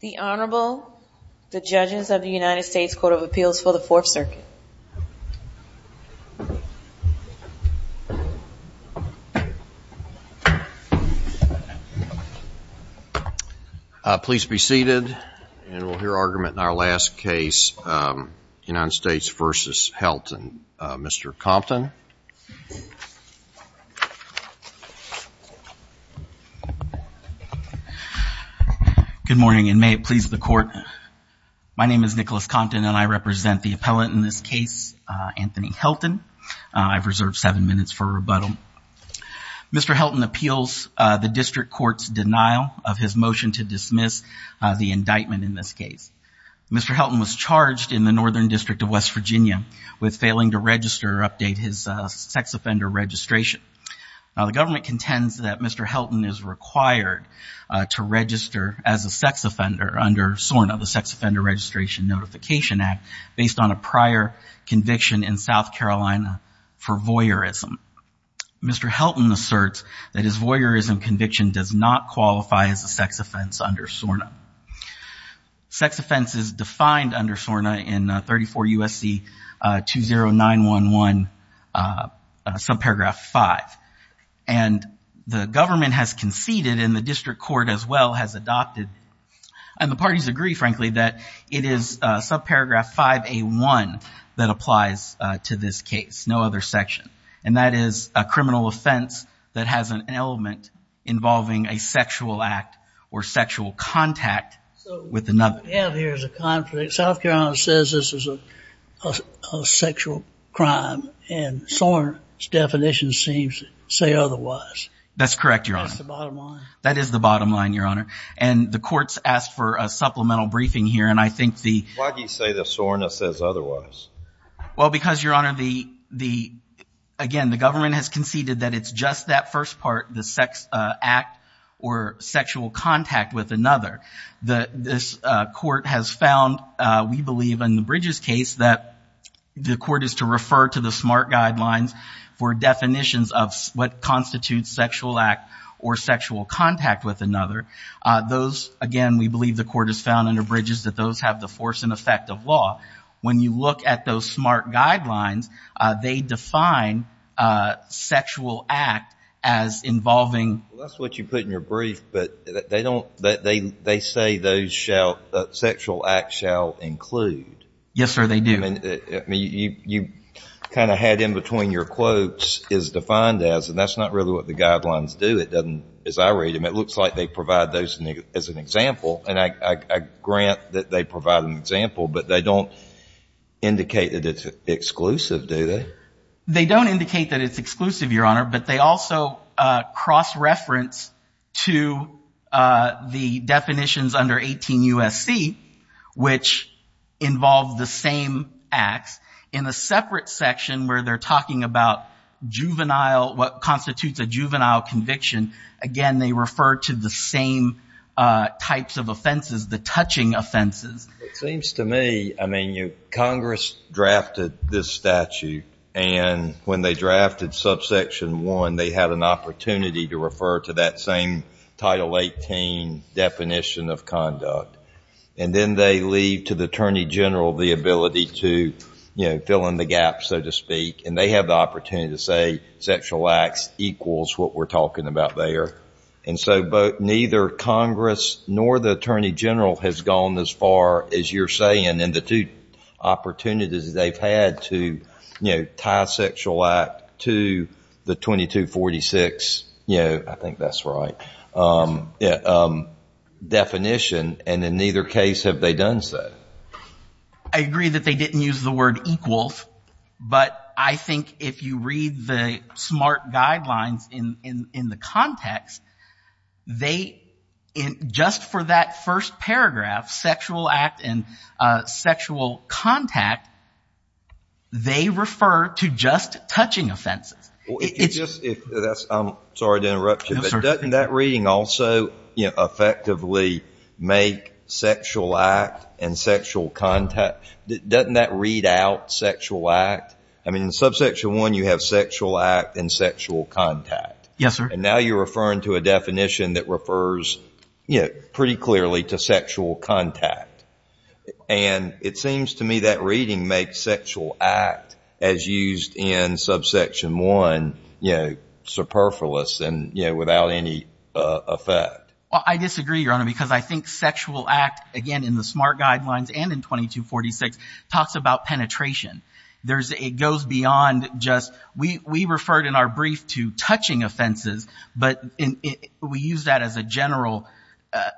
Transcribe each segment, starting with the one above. The Honorable, the judges of the United States Court of Appeals for the Fourth Circuit. Please be seated and we'll hear argument in our last case, United States v. Helton. Mr. Compton. Good morning and may it please the court. My name is Nicholas Compton and I represent the appellant in this case, Anthony Helton. I've reserved seven minutes for rebuttal. Mr. Helton appeals the district court's denial of his motion to dismiss the indictment in this case. Mr. Helton was charged in the Northern District of West Virginia with failing to register or update his sex offender registration. Now the government contends that Mr. Helton is required to register as a sex offender under SORNA, the Sex Offender Registration Notification Act, based on a prior conviction in South Carolina for voyeurism. Mr. Helton asserts that his voyeurism conviction does not qualify as a sex offense under SORNA. Sex offense is defined under SORNA in 34 U.S.C. 20911, subparagraph 5. And the government has conceded and the district court as well has adopted. And the parties agree, frankly, that it is subparagraph 5A1 that applies to this case, no other section. And that is a criminal offense that has an element involving a sexual act or sexual contact with another. So what we have here is a conflict. South Carolina says this is a sexual crime, and SORNA's definition seems to say otherwise. That's correct, Your Honor. That's the bottom line? That is the bottom line, Your Honor. And the courts asked for a supplemental briefing here, and I think the... Why do you say that SORNA says otherwise? Well, because, Your Honor, again, the government has conceded that it's just that first part, the sex act or sexual contact with another. This court has found, we believe in the Bridges case, that the court is to refer to the SMART guidelines for definitions of what constitutes sexual act or sexual contact with another. Those, again, we believe the court has found under Bridges that those have the force and effect of law. When you look at those SMART guidelines, they define sexual act as involving... Well, that's what you put in your brief, but they say those sexual acts shall include. Yes, sir, they do. I mean, you kind of had in between your quotes, is defined as, and that's not really what the guidelines do. It doesn't, as I read them, it looks like they provide those as an example. And I grant that they provide an example, but they don't indicate that it's exclusive, do they? They don't indicate that it's exclusive, Your Honor, but they also cross-reference to the definitions under 18 U.S.C., which involve the same acts in a separate section where they're talking about juvenile, what constitutes a juvenile conviction. Again, they refer to the same types of offenses, the touching offenses. It seems to me, I mean, Congress drafted this statute, and when they drafted subsection 1, they had an opportunity to refer to that same Title 18 definition of conduct. And then they leave to the Attorney General the ability to fill in the gaps, so to speak, and they have the opportunity to say sexual acts equals what we're talking about there. And so neither Congress nor the Attorney General has gone as far as you're saying in the two opportunities they've had to, you know, tie sexual act to the 2246, you know, I think that's right, definition. And in neither case have they done so. I agree that they didn't use the word equals, but I think if you read the SMART guidelines in the context, they just for that first paragraph, sexual act and sexual contact, they refer to just touching offenses. I'm sorry to interrupt you, but doesn't that reading also, you know, effectively make sexual act and sexual contact, doesn't that read out sexual act? I mean, in subsection 1, you have sexual act and sexual contact. Yes, sir. And now you're referring to a definition that refers, you know, pretty clearly to sexual contact. And it seems to me that reading makes sexual act, as used in subsection 1, you know, superfluous and, you know, without any effect. Well, I disagree, Your Honor, because I think sexual act, again, in the SMART guidelines and in 2246, talks about penetration. It goes beyond just we referred in our brief to touching offenses, but we use that as a general,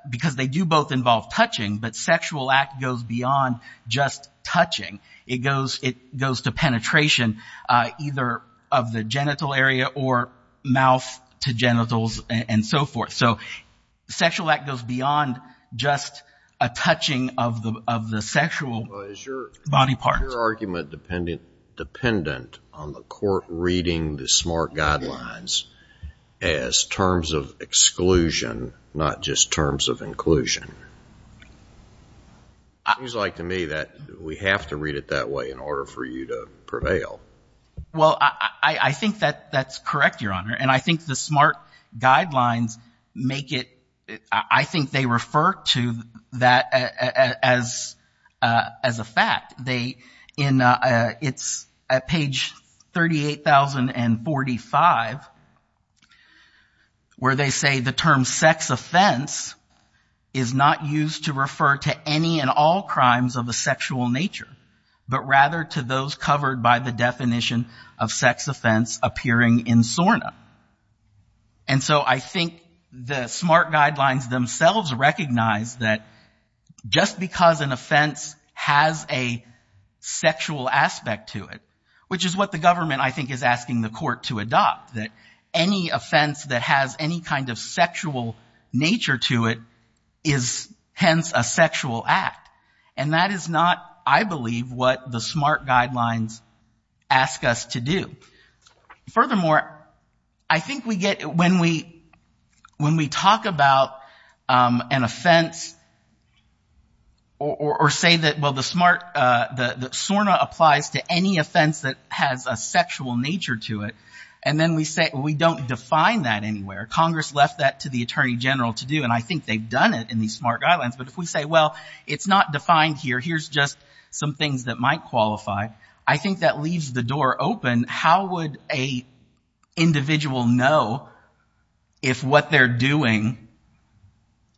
because they do both involve touching, but sexual act goes beyond just touching. It goes to penetration, either of the genital area or mouth to genitals and so forth. So sexual act goes beyond just a touching of the sexual body part. Is your argument dependent on the court reading the SMART guidelines as terms of exclusion, not just terms of inclusion? It seems like to me that we have to read it that way in order for you to prevail. Well, I think that's correct, Your Honor, and I think the SMART guidelines make it, I think they refer to that as a fact. They, it's at page 38,045, where they say the term sex offense is not used to refer to any and all crimes of a sexual nature, but rather to those covered by the definition of sex offense appearing in SORNA. And so I think the SMART guidelines themselves recognize that just because an offense has a sexual aspect to it, which is what the government, I think, is asking the court to adopt, that any offense that has any kind of sexual nature to it is hence a sexual act. And that is not, I believe, what the SMART guidelines ask us to do. Furthermore, I think we get, when we talk about an offense or say that, well, the SMART, the SORNA applies to any offense that has a sexual nature to it, and then we say, well, we don't define that anywhere. Congress left that to the Attorney General to do, and I think they've done it in these SMART guidelines. But if we say, well, it's not defined here, here's just some things that might qualify, I think that leaves the door open. How would an individual know if what they're doing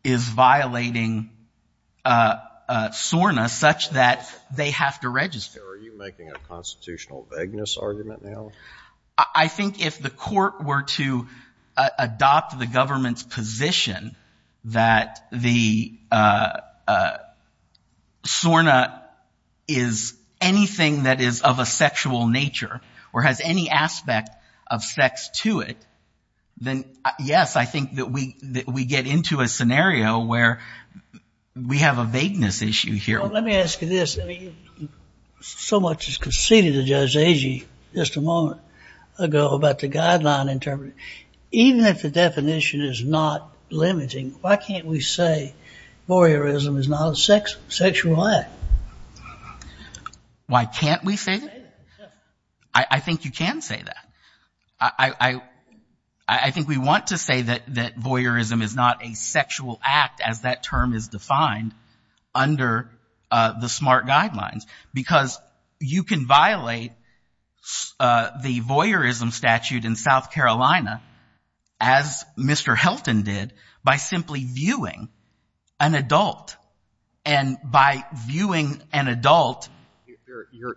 is violating SORNA such that they have to register? Are you making a constitutional vagueness argument now? I think if the court were to adopt the government's position that the SORNA is anything that is of a sexual nature or has any aspect of sex to it, then, yes, I think that we get into a scenario where we have a vagueness issue here. Well, let me ask you this. I mean, so much was conceded to Judge Agee just a moment ago about the guideline interpretation. Even if the definition is not limiting, why can't we say voyeurism is not a sexual act? Why can't we say that? I think you can say that. I think we want to say that voyeurism is not a sexual act, as that term is defined under the SMART guidelines, because you can violate the voyeurism statute in South Carolina, as Mr. Helton did, by simply viewing an adult. And by viewing an adult...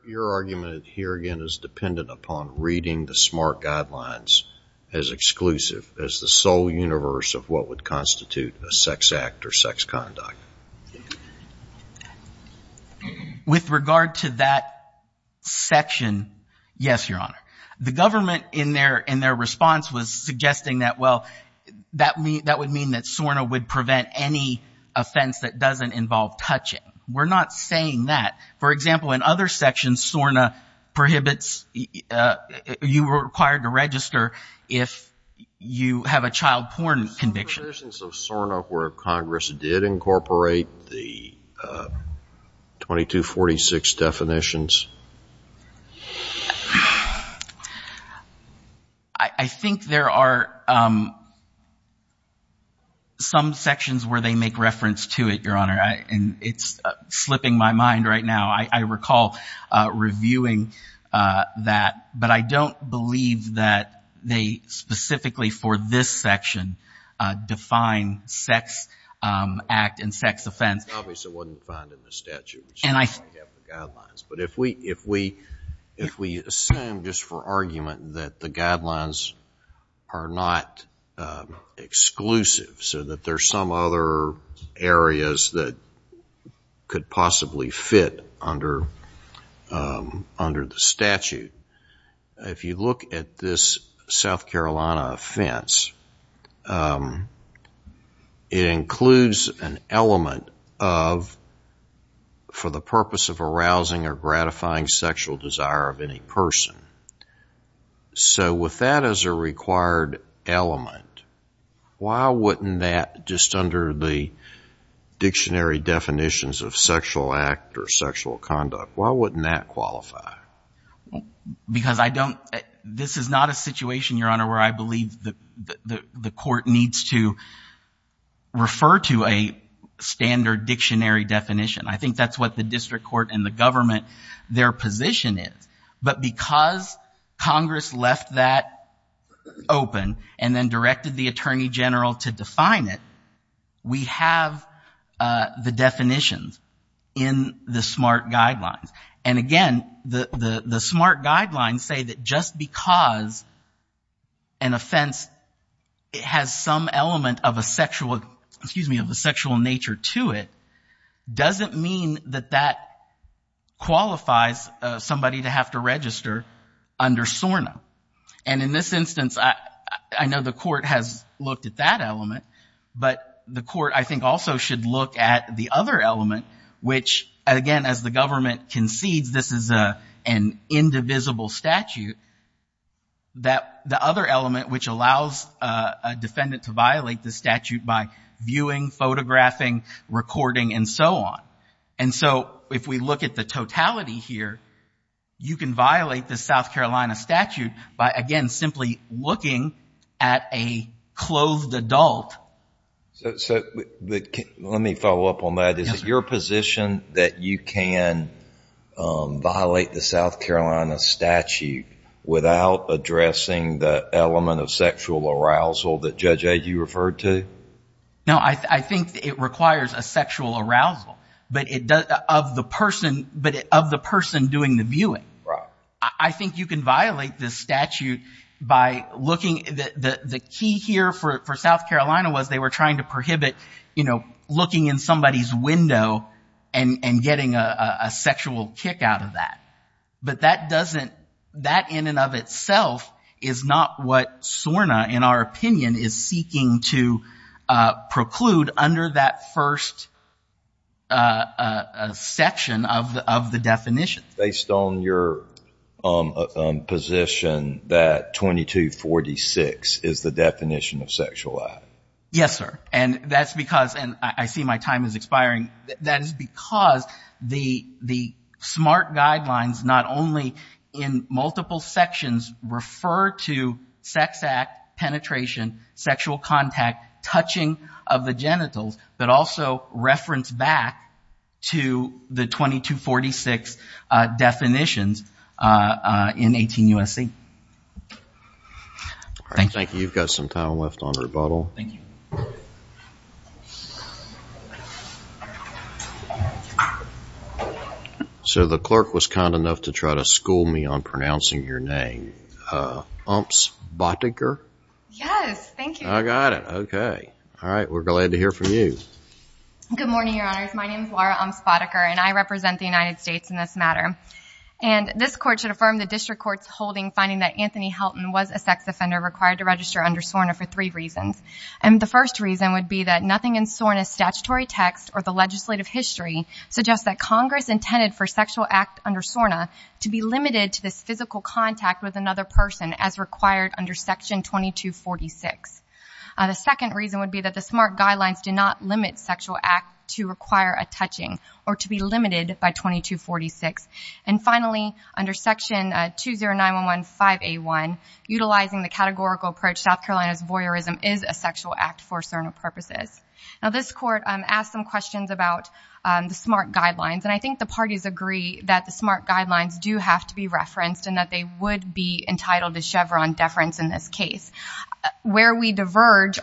Your argument here, again, is dependent upon reading the SMART guidelines as exclusive, as the sole universe of what would constitute a sex act or sex conduct. With regard to that section, yes, Your Honor. The government, in their response, was suggesting that, well, that would mean that SORNA would prevent any offense that doesn't involve touching. We're not saying that. For example, in other sections, SORNA prohibits you were required to register if you have a child porn conviction. Were there provisions of SORNA where Congress did incorporate the 2246 definitions? I think there are some sections where they make reference to it, Your Honor. And it's slipping my mind right now. I recall reviewing that. But I don't believe that they specifically for this section define sex act and sex offense. It's obvious it wasn't defined in the statute, which is why we have the guidelines. But if we assume, just for argument, that the guidelines are not exclusive, so that there are some other areas that could possibly fit under the statute, if you look at this South Carolina offense, it includes an element of for the purpose of arousing or gratifying sexual desire of any person. So with that as a required element, why wouldn't that just under the dictionary definitions of sexual act or sexual conduct, why wouldn't that qualify? Because this is not a situation, Your Honor, where I believe the court needs to refer to a standard dictionary definition. I think that's what the district court and the government, their position is. But because Congress left that open and then directed the attorney general to define it, we have the definitions in the SMART guidelines. And again, the SMART guidelines say that just because an offense has some element of a sexual nature to it, doesn't mean that that qualifies somebody to have to register under SORNA. And in this instance, I know the court has looked at that element, but the court I think also should look at the other element, which again, as the government concedes this is an indivisible statute, that the other element which allows a defendant to violate the statute by viewing, photographing, recording, and so on. And so if we look at the totality here, you can violate the South Carolina statute by, again, simply looking at a clothed adult. So let me follow up on that. Is it your position that you can violate the South Carolina statute without addressing the element of sexual arousal that, Judge A, you referred to? No, I think it requires a sexual arousal. But of the person doing the viewing. I think you can violate this statute by looking, the key here for South Carolina was they were trying to prohibit, you know, looking in somebody's window and getting a sexual kick out of that. But that doesn't, that in and of itself is not what SORNA, in our opinion, is seeking to preclude under that first section of the definition. Based on your position that 2246 is the definition of sexual act. Yes, sir. And that's because, and I see my time is expiring, that is because the SMART guidelines not only in multiple sections refer to sex act, penetration, sexual contact, touching of the genitals, but also reference back to the 2246 definitions in 18 U.S.C. Thank you. You've got some time left on rebuttal. Thank you. So the clerk was kind enough to try to school me on pronouncing your name. Umps-Bottiger? Yes. Thank you. I got it. Okay. All right. We're glad to hear from you. Good morning, Your Honors. My name is Laura Umps-Bottiger, and I represent the United States in this matter. And this court should affirm the district court's holding finding that Anthony Helton was a sex offender required to register under SORNA for three reasons. And the first reason would be that nothing in SORNA's statutory text or the legislative history suggests that Congress intended for sexual act under SORNA to be limited to this physical contact with another person as required under Section 2246. The second reason would be that the SMART guidelines do not limit sexual act to require a touching or to be limited by 2246. And finally, under Section 209-115-A1, utilizing the categorical approach South Carolina's voyeurism is a sexual act for SORNA purposes. Now, this court asked some questions about the SMART guidelines, and I think the parties agree that the SMART guidelines do have to be referenced and that they would be entitled to Chevron deference in this case. Where we diverge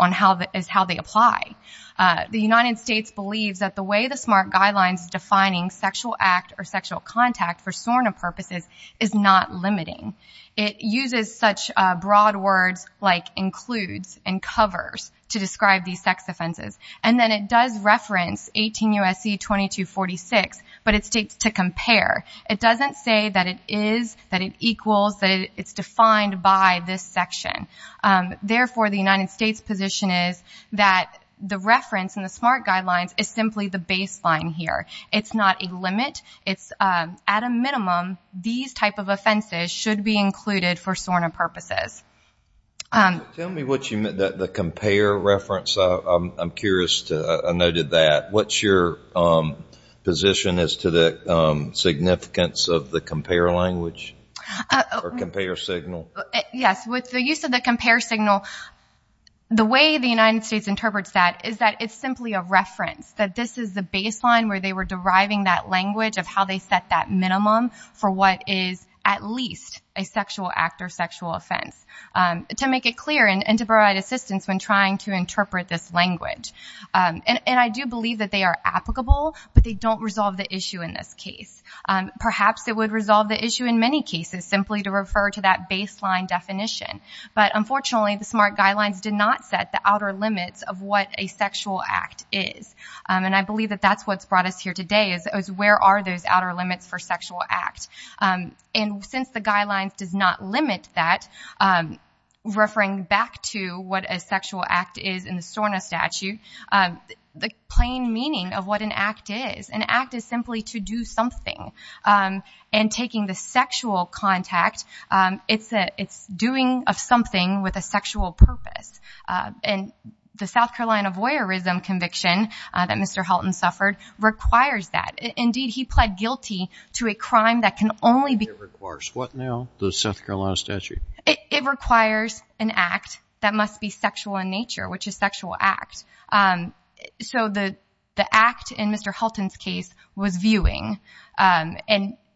is how they apply. The United States believes that the way the SMART guidelines defining sexual act or sexual contact for SORNA purposes is not limiting. It uses such broad words like includes and covers to describe these sex offenses. And then it does reference 18 U.S.C. 2246, but it states to compare. It doesn't say that it is, that it equals, that it's defined by this section. Therefore, the United States position is that the reference in the SMART guidelines is simply the baseline here. It's not a limit. It's at a minimum, these type of offenses should be included for SORNA purposes. Tell me what you meant, the compare reference. I'm curious. I noted that. What's your position as to the significance of the compare language or compare signal? Yes, with the use of the compare signal, the way the United States interprets that is that it's simply a reference, that this is the baseline where they were deriving that language of how they set that minimum for what is at least a sexual act or sexual offense, to make it clear and to provide assistance when trying to interpret this language. And I do believe that they are applicable, but they don't resolve the issue in this case. Perhaps it would resolve the issue in many cases simply to refer to that baseline definition. But, unfortunately, the SMART guidelines did not set the outer limits of what a sexual act is. And I believe that that's what's brought us here today, is where are those outer limits for sexual act. And since the guidelines does not limit that, referring back to what a sexual act is in the SORNA statute, the plain meaning of what an act is, an act is simply to do something. And taking the sexual contact, it's doing of something with a sexual purpose. And the South Carolina voyeurism conviction that Mr. Halton suffered requires that. Indeed, he pled guilty to a crime that can only be- It requires what now, the South Carolina statute? It requires an act that must be sexual in nature, which is sexual act. So the act in Mr. Halton's case was viewing. And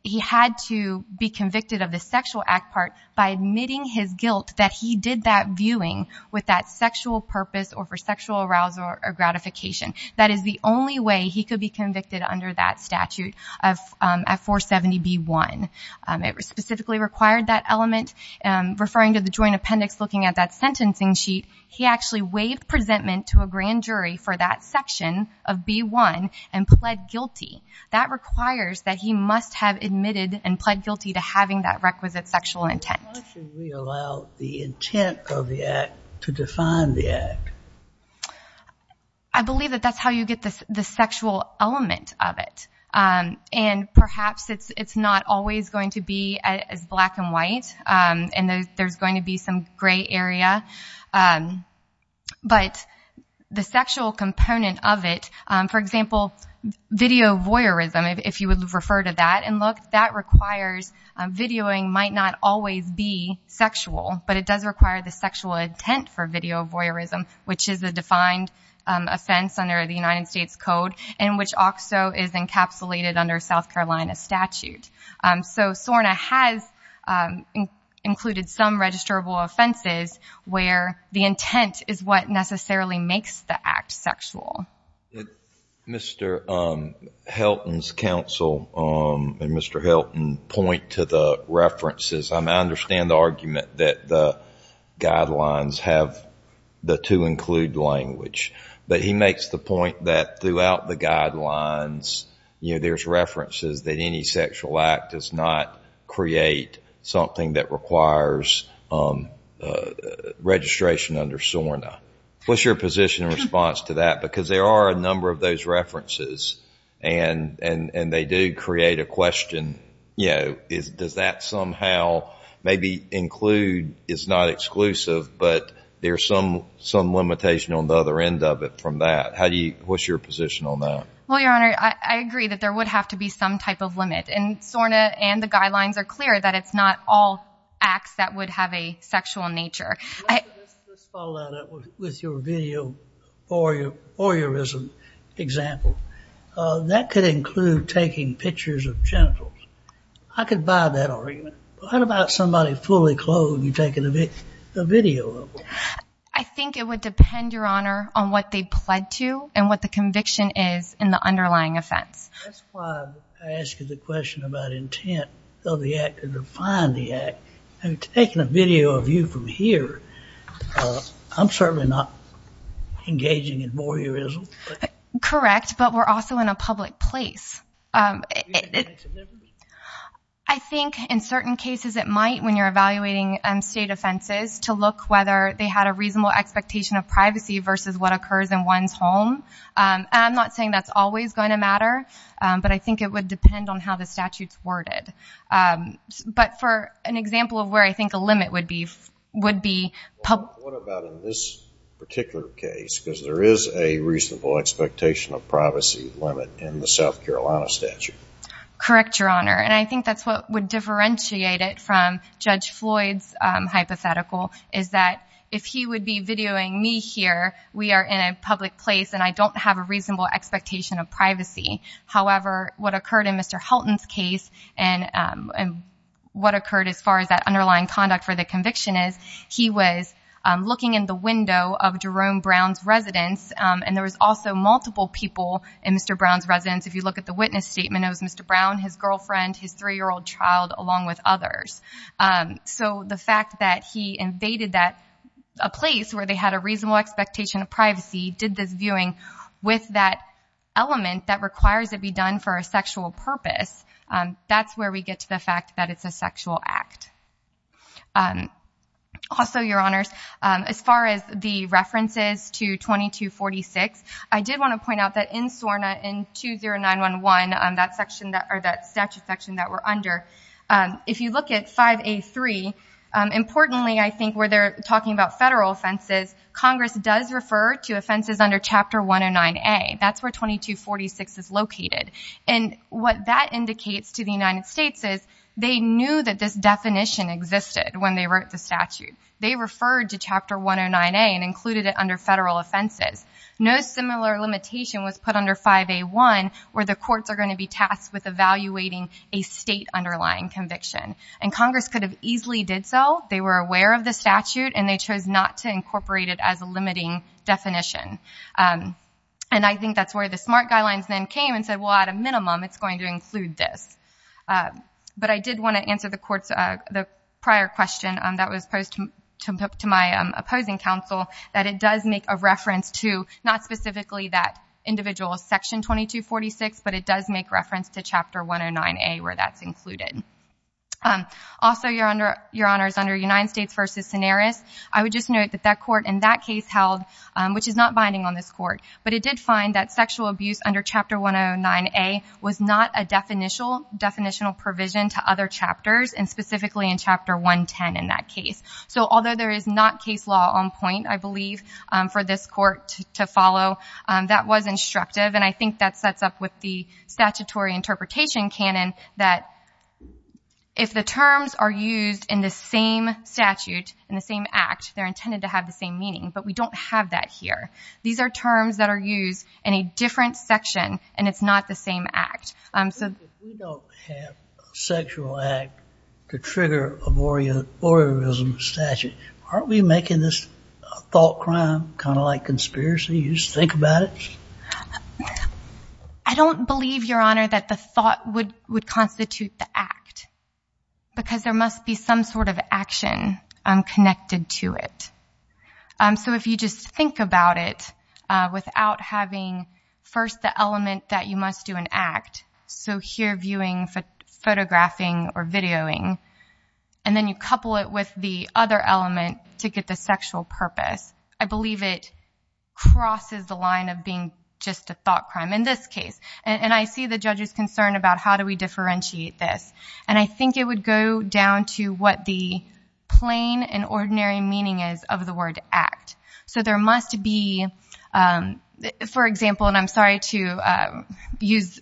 he had to be convicted of the sexual act part by admitting his guilt that he did that viewing with that sexual purpose or for sexual arousal or gratification. That is the only way he could be convicted under that statute at 470B1. It specifically required that element. Referring to the joint appendix, looking at that sentencing sheet, he actually waived presentment to a grand jury for that section of B1 and pled guilty. That requires that he must have admitted and pled guilty to having that requisite sexual intent. Why should we allow the intent of the act to define the act? I believe that that's how you get the sexual element of it. And perhaps it's not always going to be as black and white, and there's going to be some gray area. But the sexual component of it, for example, video voyeurism, if you would refer to that, and look, that requires videoing might not always be sexual, but it does require the sexual intent for video voyeurism, which is the defined offense under the United States Code and which also is encapsulated under South Carolina statute. So SORNA has included some registrable offenses where the intent is what necessarily makes the act sexual. Did Mr. Helton's counsel and Mr. Helton point to the references? I understand the argument that the guidelines have the to include language, there's references that any sexual act does not create something that requires registration under SORNA. What's your position in response to that? Because there are a number of those references, and they do create a question, does that somehow maybe include, it's not exclusive, but there's some limitation on the other end of it from that. What's your position on that? Well, Your Honor, I agree that there would have to be some type of limit, and SORNA and the guidelines are clear that it's not all acts that would have a sexual nature. Let's follow that up with your video voyeurism example. That could include taking pictures of genitals. I could buy that argument. What about somebody fully clothed and taking a video of them? I think it would depend, Your Honor, on what they pled to and what the conviction is in the underlying offense. That's why I asked you the question about intent of the act to define the act. Taking a video of you from here, I'm certainly not engaging in voyeurism. Correct, but we're also in a public place. I think in certain cases it might when you're evaluating state offenses to look whether they had a reasonable expectation of privacy versus what occurs in one's home. I'm not saying that's always going to matter, but I think it would depend on how the statute's worded. But for an example of where I think a limit would be public. What about in this particular case, because there is a reasonable expectation of privacy limit in the South Carolina statute? Correct, Your Honor, and I think that's what would differentiate it from Judge Floyd's hypothetical, is that if he would be videoing me here, we are in a public place and I don't have a reasonable expectation of privacy. However, what occurred in Mr. Helton's case and what occurred as far as that underlying conduct for the conviction is, he was looking in the window of Jerome Brown's residence, and there was also multiple people in Mr. Brown's residence. If you look at the witness statement, it was Mr. Brown, his girlfriend, his three-year-old child, along with others. So the fact that he invaded a place where they had a reasonable expectation of privacy, did this viewing with that element that requires it be done for a sexual purpose, that's where we get to the fact that it's a sexual act. Also, Your Honors, as far as the references to 2246, I did want to point out that in SORNA, in 20911, that statute section that we're under, if you look at 5A3, importantly, I think where they're talking about federal offenses, Congress does refer to offenses under Chapter 109A. That's where 2246 is located. And what that indicates to the United States is, they knew that this definition existed when they wrote the statute. They referred to Chapter 109A and included it under federal offenses. No similar limitation was put under 5A1, where the courts are going to be tasked with evaluating a state underlying conviction. And Congress could have easily did so. They were aware of the statute, and they chose not to incorporate it as a limiting definition. And I think that's where the SMART guidelines then came and said, well, at a minimum, it's going to include this. But I did want to answer the prior question that was posed to my opposing counsel, that it does make a reference to, not specifically that individual Section 2246, but it does make reference to Chapter 109A, where that's included. Also, Your Honors, under United States v. Cineris, I would just note that that court in that case held, which is not binding on this court, but it did find that sexual abuse under Chapter 109A was not a definitional provision to other chapters, and specifically in Chapter 110 in that case. So although there is not case law on point, I believe, for this court to follow, that was instructive, and I think that sets up with the statutory interpretation canon that if the terms are used in the same statute, in the same act, they're intended to have the same meaning, but we don't have that here. These are terms that are used in a different section, and it's not the same act. If we don't have a sexual act to trigger a voyeurism statute, aren't we making this a thought crime, kind of like conspiracy? You just think about it? I don't believe, Your Honor, that the thought would constitute the act, because there must be some sort of action connected to it. So if you just think about it without having first the element that you must do an act, so here viewing, photographing, or videoing, and then you couple it with the other element to get the sexual purpose, I believe it crosses the line of being just a thought crime in this case, and I see the judge's concern about how do we differentiate this, and I think it would go down to what the plain and ordinary meaning is of the word act. So there must be, for example, and I'm sorry to use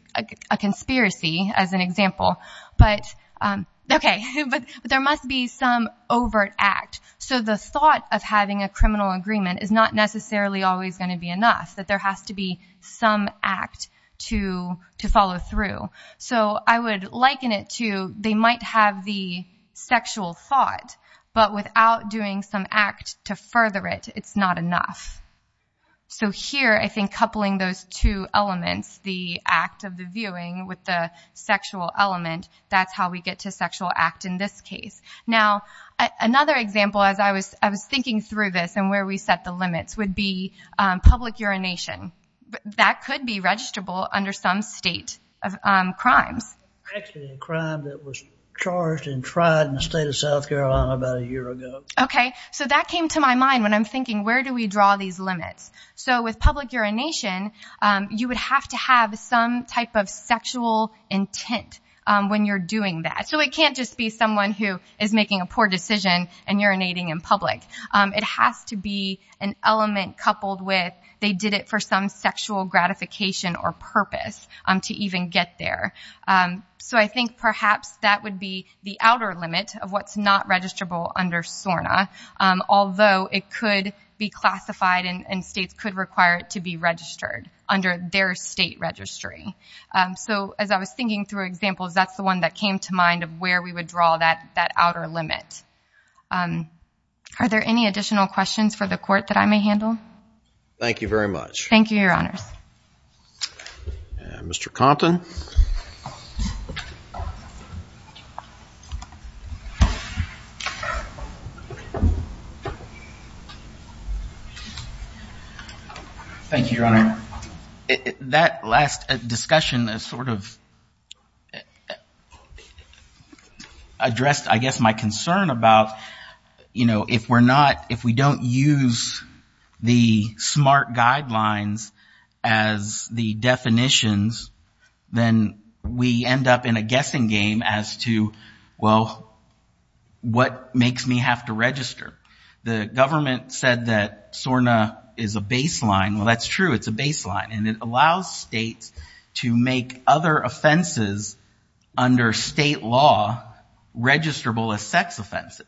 a conspiracy as an example, but there must be some overt act. So the thought of having a criminal agreement is not necessarily always going to be enough, that there has to be some act to follow through. So I would liken it to they might have the sexual thought, but without doing some act to further it, it's not enough. So here I think coupling those two elements, the act of the viewing with the sexual element, that's how we get to sexual act in this case. Now another example, as I was thinking through this and where we set the limits, would be public urination. That could be registrable under some state of crimes. Actually a crime that was charged and tried in the state of South Carolina about a year ago. Okay, so that came to my mind when I'm thinking where do we draw these limits. So with public urination, you would have to have some type of sexual intent when you're doing that. So it can't just be someone who is making a poor decision and urinating in public. It has to be an element coupled with they did it for some sexual gratification or purpose to even get there. So I think perhaps that would be the outer limit of what's not registrable under SORNA, although it could be classified and states could require it to be registered under their state registry. So as I was thinking through examples, that's the one that came to mind of where we would draw that outer limit. Are there any additional questions for the court that I may handle? Thank you very much. Thank you, Your Honors. Mr. Compton. Thank you, Your Honor. That last discussion sort of addressed, I guess, my concern about, you know, if we don't use the SMART guidelines as the definitions, then we end up in a guessing game as to, well, what makes me have to register? The government said that SORNA is a baseline. Well, that's true. It's a baseline, and it allows states to make other offenses under state law registrable as sex offenses.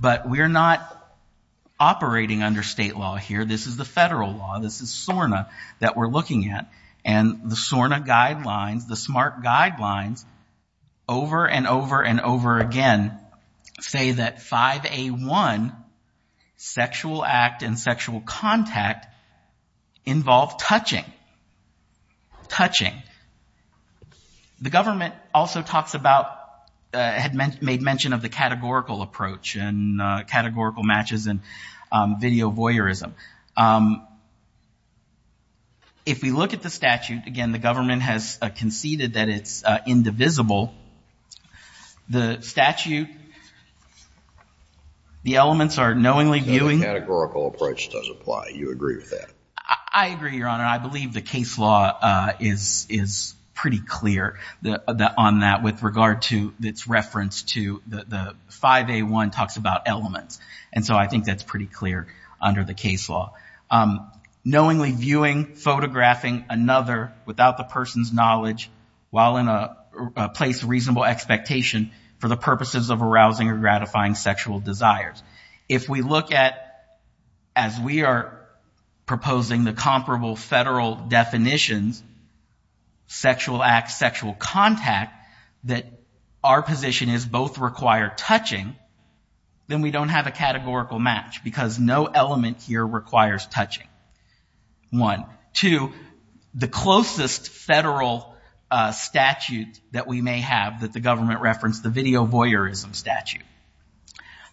But we're not operating under state law here. This is the federal law. This is SORNA that we're looking at, and the SORNA guidelines, the SMART guidelines, over and over and over again say that 5A1, sexual act and sexual contact, involve touching. Touching. The government also talks about, had made mention of the categorical approach and categorical matches and video voyeurism. If we look at the statute, again, the government has conceded that it's indivisible. The statute, the elements are knowingly viewing. The categorical approach does apply. You agree with that? I agree, Your Honor. I believe the case law is pretty clear on that with regard to its reference to the 5A1 talks about elements. And so I think that's pretty clear under the case law. Knowingly viewing, photographing another without the person's knowledge while in a place of reasonable expectation for the purposes of arousing or gratifying sexual desires. If we look at, as we are proposing the comparable federal definitions, sexual act, sexual contact, that our position is both require touching, then we don't have a categorical match because no element here requires touching. One. Two, the closest federal statute that we may have that the government referenced, the video voyeurism statute.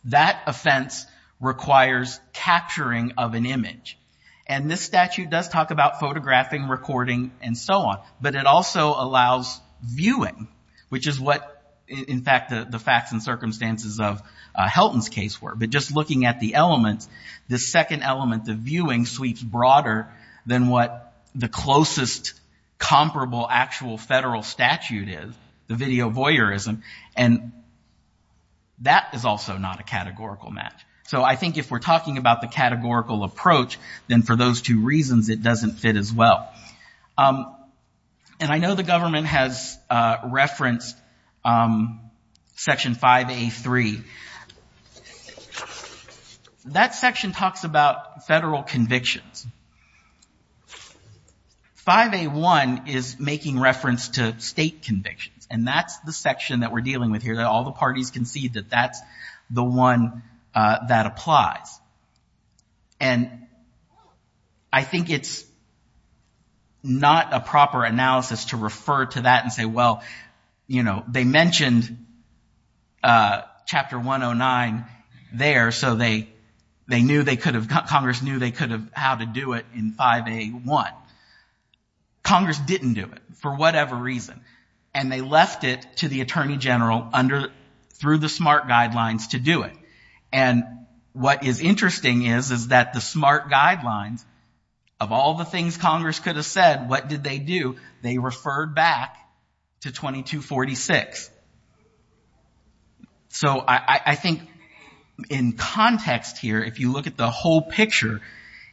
That offense requires capturing of an image. And this statute does talk about photographing, recording, and so on. But it also allows viewing, which is what, in fact, the facts and circumstances of Helton's case were. But just looking at the elements, the second element of viewing sweeps broader than what the closest comparable actual federal statute is, the video voyeurism. And that is also not a categorical match. So I think if we're talking about the categorical approach, then for those two reasons it doesn't fit as well. And I know the government has referenced Section 5A.3. That section talks about federal convictions. 5A.1 is making reference to state convictions, and that's the section that we're dealing with here. All the parties concede that that's the one that applies. And I think it's not a proper analysis to refer to that and say, well, you know, they mentioned Chapter 109 there, so they knew they could have, Congress knew they could have had to do it in 5A.1. Congress didn't do it for whatever reason. And they left it to the Attorney General through the SMART guidelines to do it. And what is interesting is, is that the SMART guidelines, of all the things Congress could have said, what did they do? They referred back to 2246. So I think in context here, if you look at the whole picture,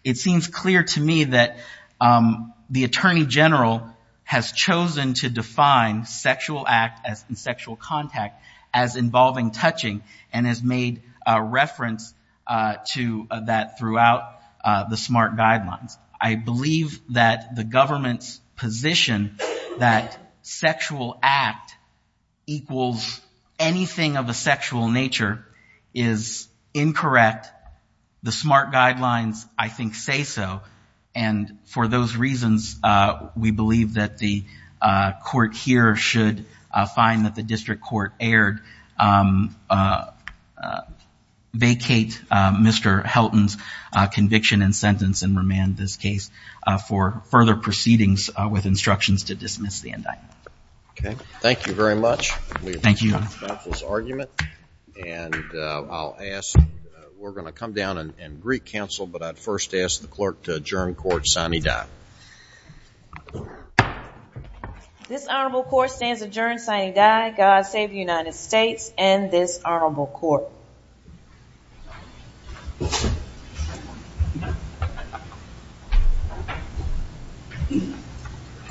it seems clear to me that the Attorney General has chosen to define sexual act and sexual contact as involving touching and has made reference to that throughout the SMART guidelines. I believe that the government's position that sexual act equals anything of a sexual nature is incorrect. But the SMART guidelines, I think, say so. And for those reasons, we believe that the court here should find that the district court erred, vacate Mr. Helton's conviction and sentence, and remand this case for further proceedings with instructions to dismiss the indictment. Okay. Thank you very much. Thank you. Thank you, counsel's argument. And I'll ask, we're going to come down and greet counsel, but I'd first ask the clerk to adjourn court sine die. This honorable court stands adjourned sine die. God save the United States and this honorable court.